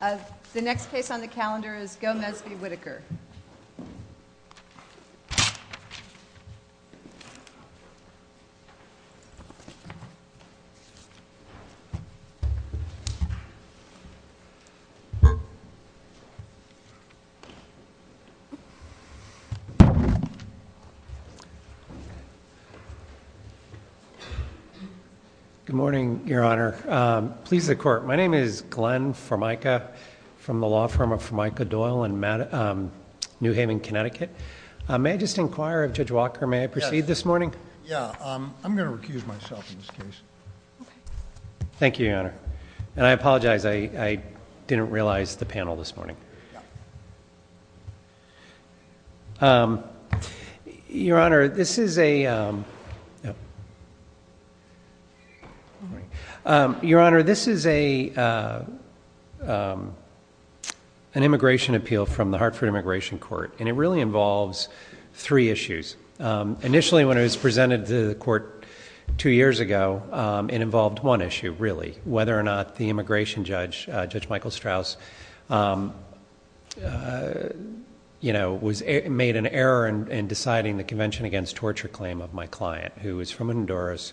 The next case on the calendar is Gomez v. Whitaker. Good morning, Your Honor. Please, the court. My name is Glenn Formica from the law firm of Formica Doyle in New Haven, Connecticut. May I just inquire of Judge Walker, may I proceed this morning? Yeah, I'm going to recuse myself in this case. Thank you, Your Honor. And I apologize, I didn't realize the panel this morning. Your Honor, this is a, no. Your Honor, this is an immigration appeal from the Hartford Immigration Court. And it really involves three issues. Initially, when it was presented to the court two years ago, it involved one issue, really, whether or not the immigration judge, Judge Michael Strauss, you know, made an error in deciding the Convention Against Torture claim of my client from Honduras,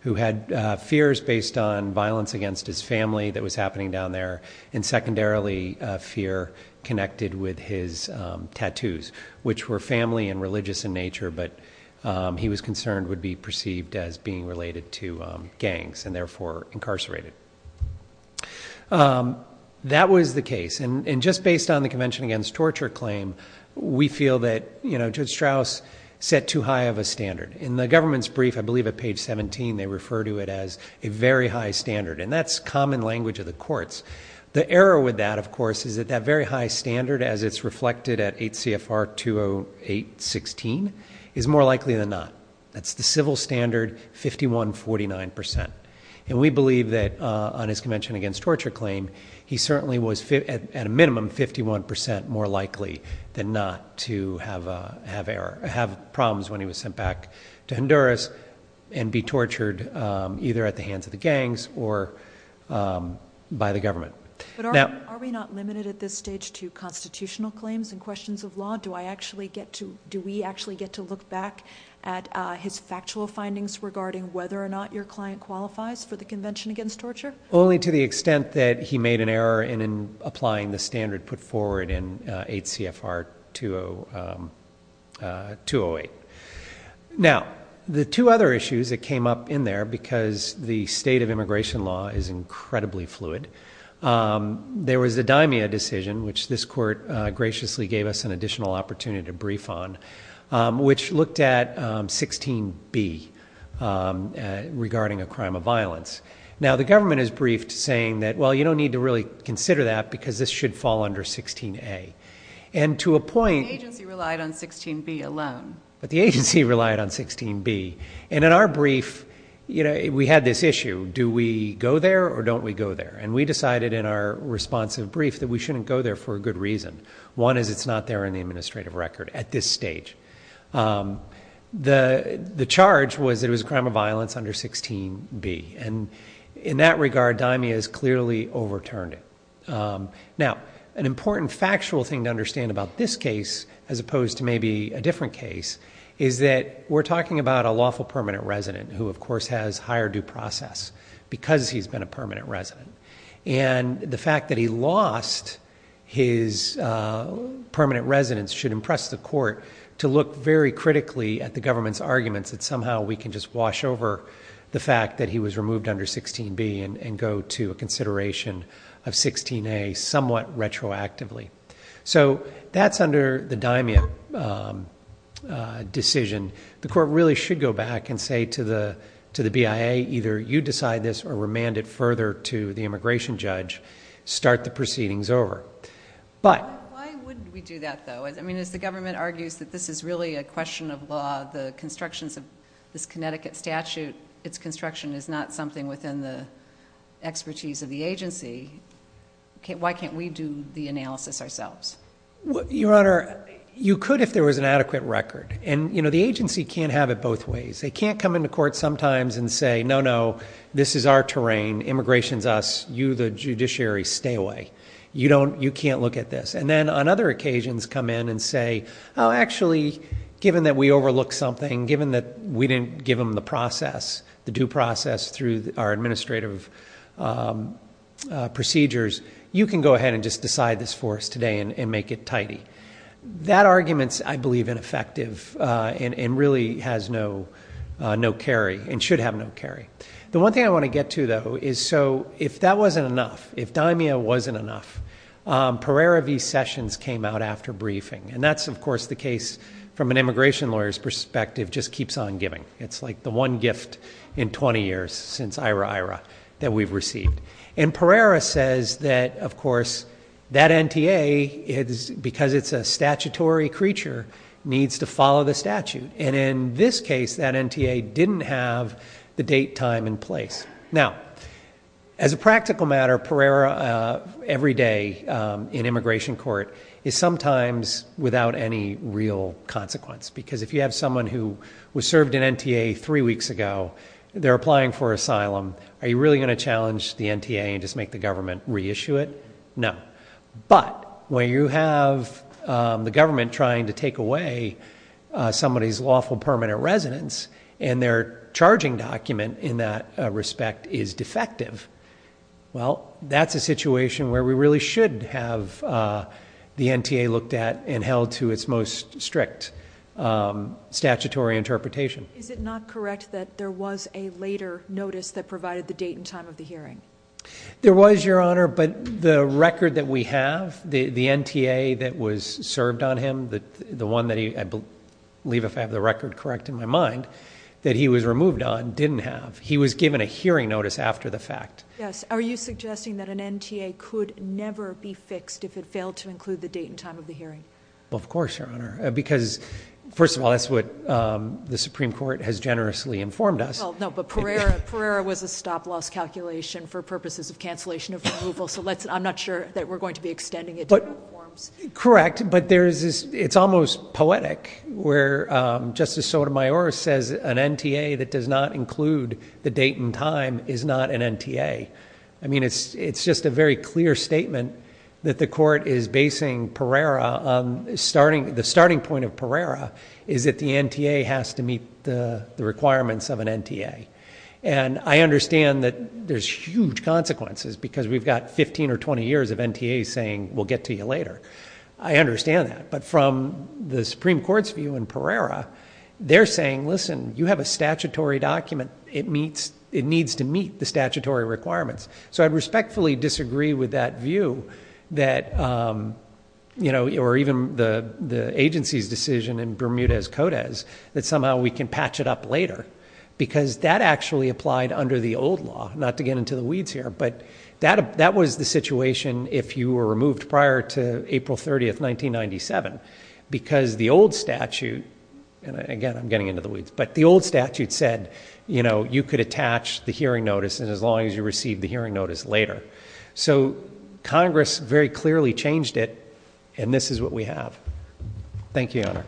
who had fears based on violence against his family that was happening down there, and secondarily, fear connected with his tattoos, which were family and religious in nature, but he was concerned would be perceived as being related to gangs, and therefore incarcerated. That was the case, and just based on the Convention Against Torture claim, we feel that, you know, Judge Strauss set too high of a standard. In the government's brief, I believe at page 17, they refer to it as a very high standard, and that's common language of the courts. The error with that, of course, is that that very high standard, as it's reflected at 8 CFR 208-16, is more likely than not. That's the civil standard, 51-49%. And we believe that on his Convention Against Torture claim, he certainly was, at a minimum, 51% more likely than not to have a, to Honduras and be tortured either at the hands of the gangs or by the government. Now- Are we not limited at this stage to constitutional claims and questions of law? Do I actually get to, do we actually get to look back at his factual findings regarding whether or not your client qualifies for the Convention Against Torture? Only to the extent that he made an error in applying the standard put forward in 8 CFR 208. Now, the two other issues that came up in there, because the state of immigration law is incredibly fluid, there was the Dimia decision, which this court graciously gave us an additional opportunity to brief on, which looked at 16b regarding a crime of violence. Now, the government has briefed saying that, well, you don't need to really consider that because this should fall under 16a. And to a point- The agency relied on 16b alone. But the agency relied on 16b. And in our brief, we had this issue, do we go there or don't we go there? And we decided in our responsive brief that we shouldn't go there for a good reason. One is it's not there in the administrative record at this stage. The charge was that it was a crime of violence under 16b. And in that regard, Dimia has clearly overturned it. Now, an important factual thing to understand about this case, as opposed to maybe a different case, is that we're talking about a lawful permanent resident who, of course, has higher due process because he's been a permanent resident. And the fact that he lost his permanent residence should impress the court to look very critically at the government's arguments that somehow we can just wash over the fact that he was removed under 16b and go to a consideration of 16a somewhat retroactively. So that's under the Dimia decision. The court really should go back and say to the BIA, either you decide this or remand it further to the immigration judge, start the proceedings over. But- Why wouldn't we do that though? I mean, as the government argues that this is really a question of law, the constructions of this Connecticut statute, its construction is not something within the expertise of the agency. Why can't we do the analysis ourselves? Your Honor, you could if there was an adequate record. And the agency can't have it both ways. They can't come into court sometimes and say, no, no, this is our terrain, immigration's us, you, the judiciary, stay away. You can't look at this. And then, on other occasions, come in and say, actually, given that we overlooked something, given that we didn't give them the process, the due process through our administrative procedures, you can go ahead and just decide this for us today and make it tidy. That argument's, I believe, ineffective and really has no carry and should have no carry. The one thing I want to get to, though, is so if that wasn't enough, if Dimia wasn't enough, Pereira v. Sessions came out after briefing. And that's, of course, the case from an immigration lawyer's perspective, just keeps on giving. It's like the one gift in 20 years since IRA, IRA that we've received. And Pereira says that, of course, that NTA, because it's a statutory creature, needs to follow the statute, and in this case, that NTA didn't have the date, time, and place. Now, as a practical matter, Pereira, every day in immigration court, is sometimes without any real consequence. Because if you have someone who was served in NTA three weeks ago, they're applying for asylum. Are you really going to challenge the NTA and just make the government reissue it? No, but when you have the government trying to take away somebody's lawful permanent residence and their charging document in that respect is defective. Well, that's a situation where we really should have the NTA looked at and held to its most strict statutory interpretation. Is it not correct that there was a later notice that provided the date and time of the hearing? There was, Your Honor, but the record that we have, the NTA that was served on him, the one that I believe, if I have the record correct in my mind, that he was removed on, didn't have. He was given a hearing notice after the fact. Yes, are you suggesting that an NTA could never be fixed if it failed to include the date and time of the hearing? Well, of course, Your Honor, because first of all, that's what the Supreme Court has generously informed us. Well, no, but Pereira was a stop loss calculation for purposes of cancellation of removal. So I'm not sure that we're going to be extending it to other forms. Correct, but it's almost poetic where Justice Sotomayor says an NTA that does not include the date and time is not an NTA. I mean, it's just a very clear statement that the court is basing Pereira, the starting point of Pereira, is that the NTA has to meet the requirements of an NTA. And I understand that there's huge consequences because we've got 15 or 20 years of NTAs saying, we'll get to you later. I understand that, but from the Supreme Court's view in Pereira, they're saying, listen, you have a statutory document, it needs to meet the statutory requirements. So I'd respectfully disagree with that view that, or even the agency's decision in Bermudez-Codez, that somehow we can patch it up later. Because that actually applied under the old law, not to get into the weeds here, but that was the situation if you were removed prior to April 30th, 1997. Because the old statute, and again, I'm getting into the weeds, but the old statute said, you could attach the hearing notice as long as you receive the hearing notice later. So, Congress very clearly changed it, and this is what we have. Thank you, Your Honor.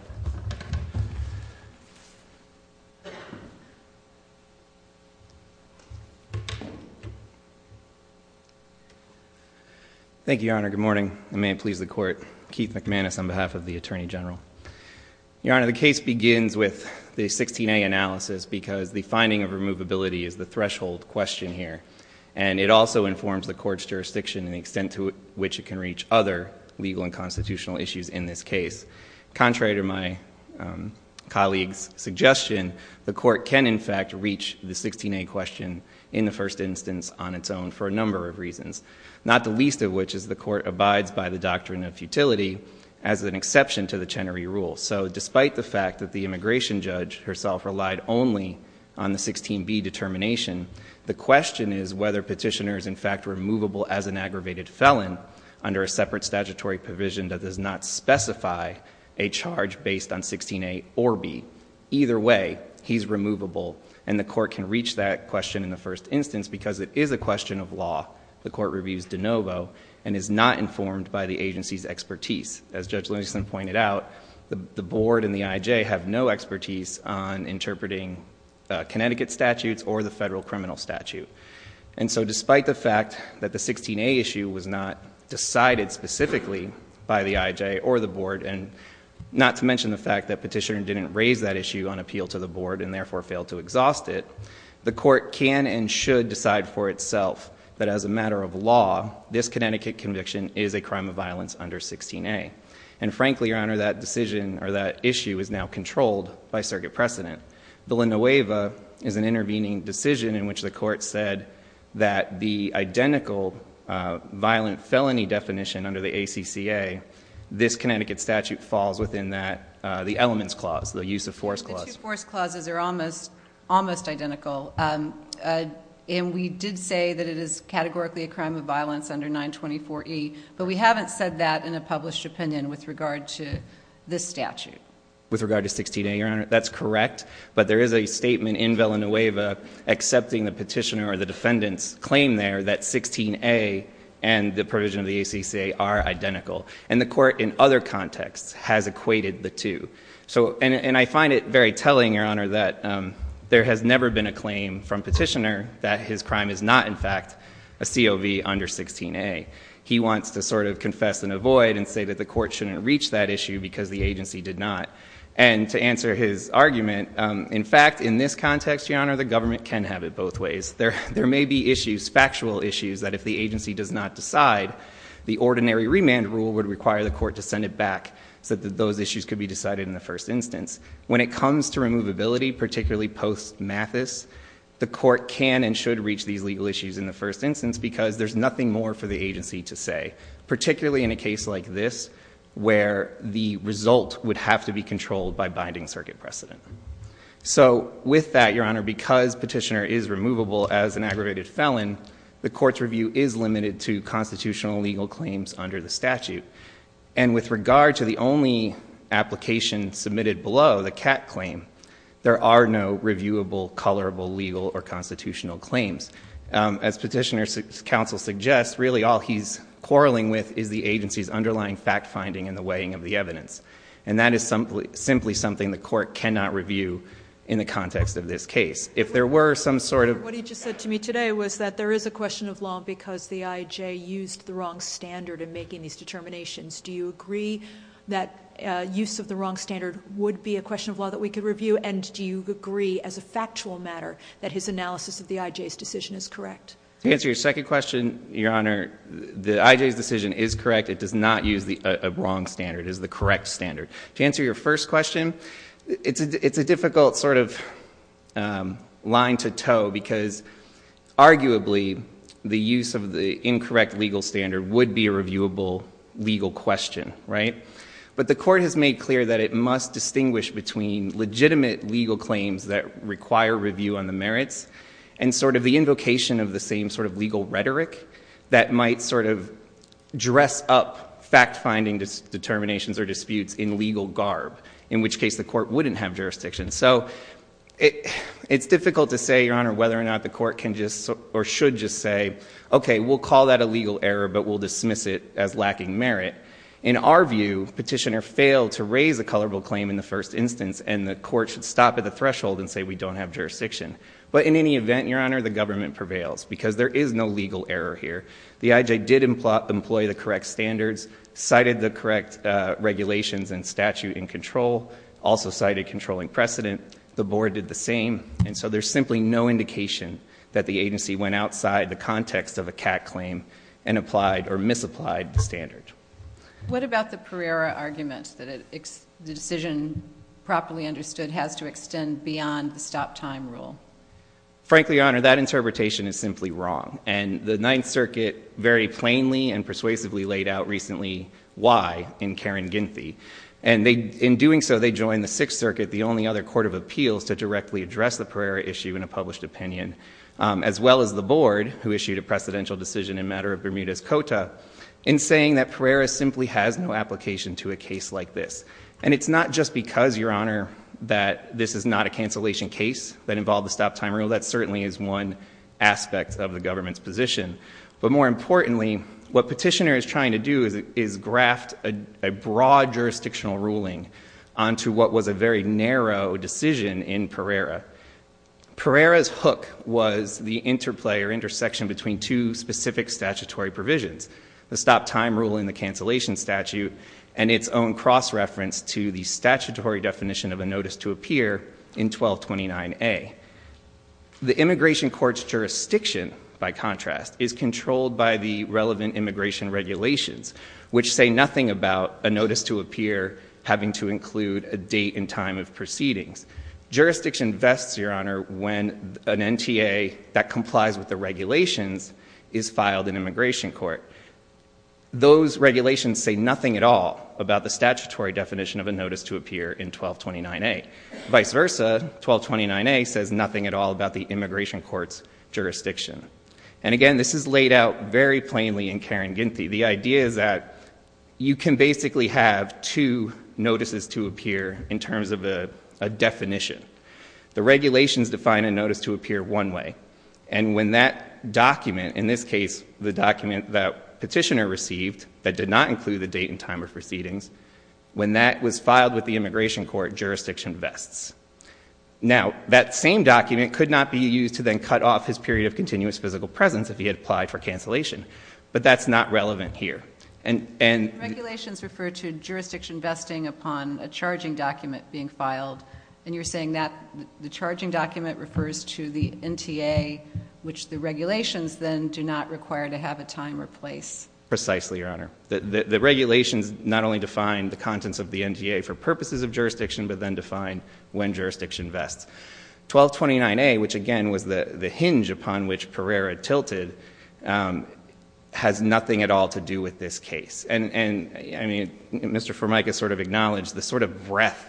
Thank you, Your Honor, good morning. And may it please the court, Keith McManus on behalf of the Attorney General. Your Honor, the case begins with the 16A analysis because the finding of removability is the threshold question here. And it also informs the court's jurisdiction and the extent to which it can reach other legal and constitutional issues in this case. Contrary to my colleague's suggestion, the court can, in fact, reach the 16A question in the first instance on its own for a number of reasons. Not the least of which is the court abides by the doctrine of futility as an exception to the Chenery Rule. So despite the fact that the immigration judge herself relied only on the 16B determination, the question is whether petitioner is in fact removable as an aggravated felon under a separate statutory provision that does not specify a charge based on 16A or B. Either way, he's removable, and the court can reach that question in the first instance because it is a question of law. The court reviews de novo and is not informed by the agency's expertise. As Judge Lennison pointed out, the board and the IJ have no expertise on interpreting Connecticut statutes or the federal criminal statute. And so despite the fact that the 16A issue was not decided specifically by the IJ or the board, and not to mention the fact that petitioner didn't raise that issue on appeal to the board and therefore failed to exhaust it. The court can and should decide for itself that as a matter of law, this Connecticut conviction is a crime of violence under 16A. And frankly, your honor, that decision or that issue is now controlled by circuit precedent. The Linoeva is an intervening decision in which the court said that the identical violent felony definition under the ACCA, this Connecticut statute falls within that. The elements clause, the use of force clause. The two force clauses are almost identical, and we did say that it is categorically a crime of violence under 924E, but we haven't said that in a published opinion with regard to this statute. With regard to 16A, your honor, that's correct, but there is a statement in Villanueva accepting the petitioner or the defendant's claim there that 16A and the provision of the ACCA are identical. And the court in other contexts has equated the two. So, and I find it very telling, your honor, that there has never been a claim from petitioner that his crime is not in fact a COV under 16A. He wants to sort of confess and avoid and say that the court shouldn't reach that issue because the agency did not. And to answer his argument, in fact, in this context, your honor, the government can have it both ways. There may be issues, factual issues, that if the agency does not decide, the ordinary remand rule would require the court to send it back so that those issues could be decided in the first instance. When it comes to removability, particularly post mathis, the court can and legal issues in the first instance because there's nothing more for the agency to say. Particularly in a case like this, where the result would have to be controlled by binding circuit precedent. So with that, your honor, because petitioner is removable as an aggravated felon, the court's review is limited to constitutional legal claims under the statute. And with regard to the only application submitted below, the cat claim, there are no reviewable, colorable, legal, or constitutional claims. As petitioner's counsel suggests, really all he's quarreling with is the agency's underlying fact finding and the weighing of the evidence. And that is simply something the court cannot review in the context of this case. If there were some sort of- What he just said to me today was that there is a question of law because the IJ used the wrong standard in making these determinations. Do you agree that use of the wrong standard would be a question of law that we could review? And do you agree, as a factual matter, that his analysis of the IJ's decision is correct? To answer your second question, your honor, the IJ's decision is correct. It does not use a wrong standard. It is the correct standard. To answer your first question, it's a difficult sort of line to tow because arguably the use of the incorrect legal standard would be a reviewable legal question, right? But the court has made clear that it must distinguish between legitimate legal claims that require review on the merits. And sort of the invocation of the same sort of legal rhetoric that might sort of dress up fact finding determinations or disputes in legal garb. In which case the court wouldn't have jurisdiction. So it's difficult to say, your honor, whether or not the court can just or should just say, okay, we'll call that a legal error, but we'll dismiss it as lacking merit. In our view, petitioner failed to raise a colorable claim in the first instance and the court should stop at the threshold and say we don't have jurisdiction. But in any event, your honor, the government prevails because there is no legal error here. The IJ did employ the correct standards, cited the correct regulations and statute in control, also cited controlling precedent, the board did the same. And so there's simply no indication that the agency went outside the context of a CAC claim and applied or misapplied the standard. What about the Pereira argument that the decision properly understood has to extend beyond the stop time rule? Frankly, your honor, that interpretation is simply wrong. And the Ninth Circuit very plainly and persuasively laid out recently why in Karen Ginthy. And in doing so, they joined the Sixth Circuit, the only other court of appeals to directly address the Pereira issue in a published opinion. As well as the board, who issued a precedential decision in matter of Bermuda's Cota. In saying that Pereira simply has no application to a case like this. And it's not just because, your honor, that this is not a cancellation case that involved the stop time rule. That certainly is one aspect of the government's position. But more importantly, what petitioner is trying to do is graft a broad jurisdictional ruling. Onto what was a very narrow decision in Pereira. Pereira's hook was the interplay or intersection between two specific statutory provisions. The stop time rule in the cancellation statute and its own cross reference to the statutory definition of a notice to appear in 1229A. The immigration court's jurisdiction, by contrast, is controlled by the relevant immigration regulations. Which say nothing about a notice to appear having to include a date and time of proceedings. Jurisdiction vests, your honor, when an NTA that complies with the regulations is filed in immigration court. Those regulations say nothing at all about the statutory definition of a notice to appear in 1229A. Vice versa, 1229A says nothing at all about the immigration court's jurisdiction. And again, this is laid out very plainly in Karen Ginty. The idea is that you can basically have two notices to appear in terms of a definition. The regulations define a notice to appear one way. And when that document, in this case, the document that petitioner received that did not include the date and time of proceedings. When that was filed with the immigration court, jurisdiction vests. Now, that same document could not be used to then cut off his period of continuous physical presence if he had applied for cancellation. But that's not relevant here. And- Regulations refer to jurisdiction vesting upon a charging document being filed. And you're saying that the charging document refers to the NTA, which the regulations then do not require to have a time or place. Precisely, your honor. The regulations not only define the contents of the NTA for purposes of jurisdiction, but then define when jurisdiction vests. 1229A, which again was the hinge upon which Pereira tilted, has nothing at all to do with this case. And I mean, Mr. Formica sort of acknowledged the sort of breadth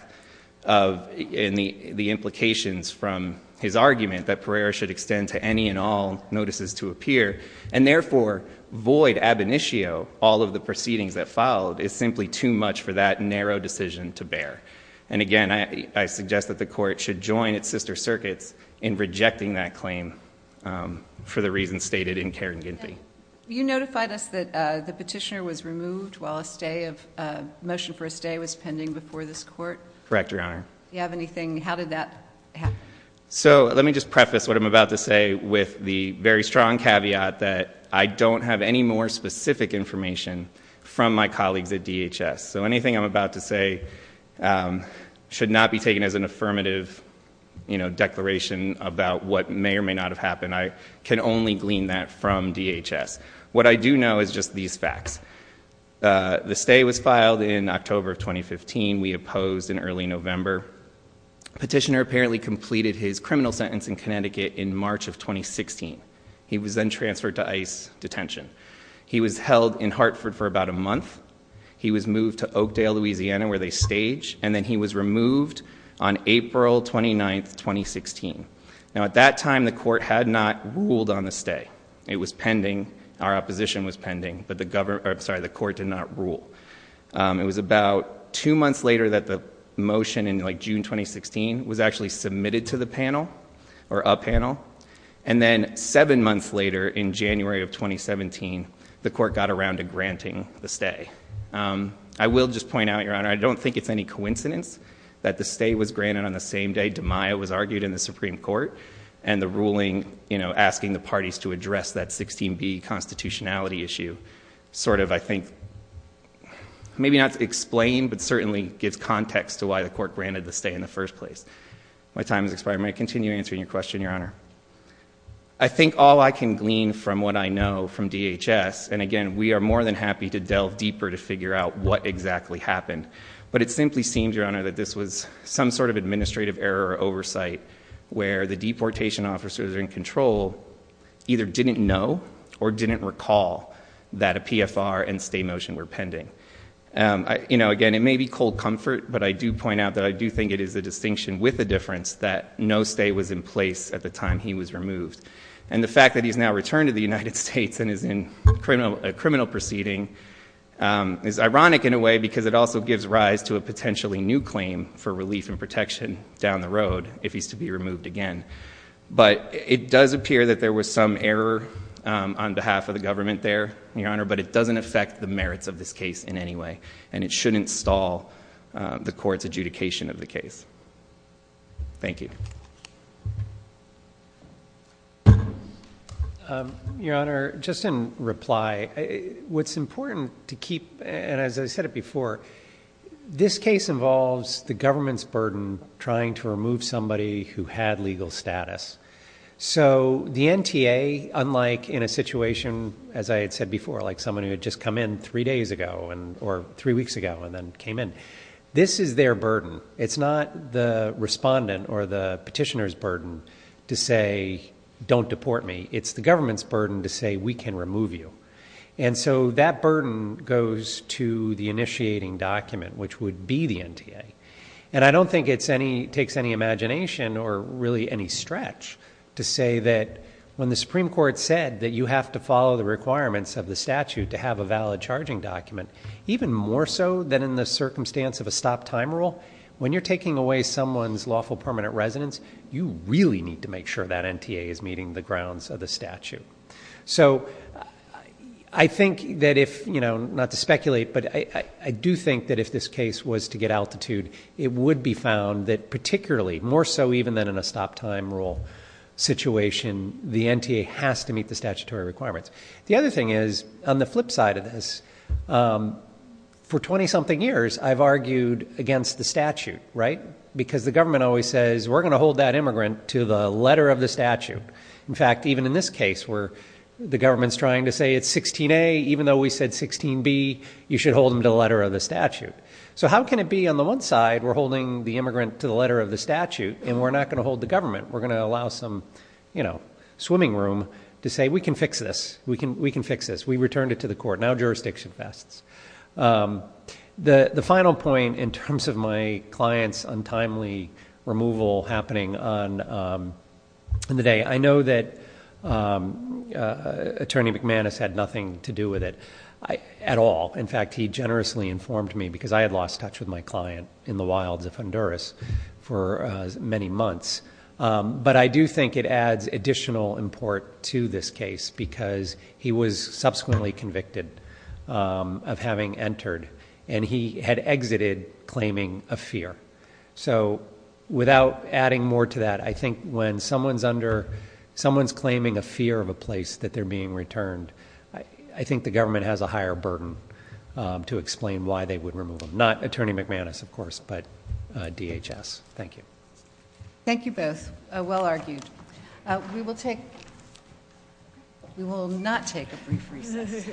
of the implications from his argument that Pereira should extend to any and all notices to appear. And therefore, void ab initio, all of the proceedings that followed, is simply too much for that narrow decision to bear. And again, I suggest that the court should join its sister circuits in rejecting that claim for the reasons stated in Karen Ginty. You notified us that the petitioner was removed while a motion for a stay was pending before this court. Correct, your honor. Do you have anything, how did that happen? So let me just preface what I'm about to say with the very strong caveat that I don't have any more specific information from my colleagues at DHS. So anything I'm about to say should not be taken as an affirmative declaration about what may or may not have happened. I can only glean that from DHS. What I do know is just these facts. The stay was filed in October of 2015. We opposed in early November. Petitioner apparently completed his criminal sentence in Connecticut in March of 2016. He was then transferred to ICE detention. He was held in Hartford for about a month. He was moved to Oakdale, Louisiana where they stage, and then he was removed on April 29th, 2016. Now at that time, the court had not ruled on the stay. It was pending, our opposition was pending, but the court did not rule. It was about two months later that the motion in June 2016 was actually submitted to the panel, or a panel. And then seven months later in January of 2017, the court got around to granting the stay. I will just point out, your honor, I don't think it's any coincidence that the stay was granted on the same day DeMaio was argued in the Supreme Court and the ruling asking the parties to address that 16B constitutionality issue. Sort of, I think, maybe not to explain, but certainly gives context to why the court granted the stay in the first place. My time has expired, may I continue answering your question, your honor? I think all I can glean from what I know from DHS, and again, we are more than happy to delve deeper to figure out what exactly happened. But it simply seems, your honor, that this was some sort of administrative error or oversight where the deportation officers in control either didn't know or didn't recall that a PFR and stay motion were pending. Again, it may be cold comfort, but I do point out that I do think it is a distinction with a difference that no stay was in place at the time he was removed. And the fact that he's now returned to the United States and is in a criminal proceeding is ironic in a way, because it also gives rise to a potentially new claim for relief and protection down the road if he's to be removed again. But it does appear that there was some error on behalf of the government there, your honor, but it doesn't affect the merits of this case in any way, and it shouldn't stall the court's adjudication of the case. Thank you. Your honor, just in reply, what's important to keep, and the government's burden trying to remove somebody who had legal status. So the NTA, unlike in a situation, as I had said before, like someone who had just come in three days ago or three weeks ago and then came in. This is their burden. It's not the respondent or the petitioner's burden to say, don't deport me. It's the government's burden to say, we can remove you. And so that burden goes to the initiating document, which would be the NTA. And I don't think it takes any imagination or really any stretch to say that when the Supreme Court said that you have to follow the requirements of the statute to have a valid charging document, even more so than in the circumstance of a stop time rule. When you're taking away someone's lawful permanent residence, you really need to make sure that NTA is meeting the grounds of the statute. So I think that if, not to speculate, but I do think that if this case was to get altitude, it would be found that particularly, more so even than in a stop time rule situation, the NTA has to meet the statutory requirements. The other thing is, on the flip side of this, for 20 something years, I've argued against the statute, right? Because the government always says, we're going to hold that immigrant to the letter of the statute. In fact, even in this case, where the government's trying to say it's 16A, even though we said 16B, you should hold them to the letter of the statute. So how can it be on the one side, we're holding the immigrant to the letter of the statute, and we're not going to hold the government? We're going to allow some swimming room to say, we can fix this. We can fix this. We returned it to the court. Now jurisdiction vests. The final point in terms of my client's untimely removal happening on the day. I know that Attorney McManus had nothing to do with it at all. In fact, he generously informed me, because I had lost touch with my client in the wilds of Honduras for many months. But I do think it adds additional import to this case, because he was subsequently convicted of having entered, and he had exited claiming a fear. So without adding more to that, I think when someone's claiming a fear of a place that they're being returned, I think the government has a higher burden to explain why they would remove them. Not Attorney McManus, of course, but DHS. Thank you. Thank you both. Well argued. We will take, we will not take a brief recess.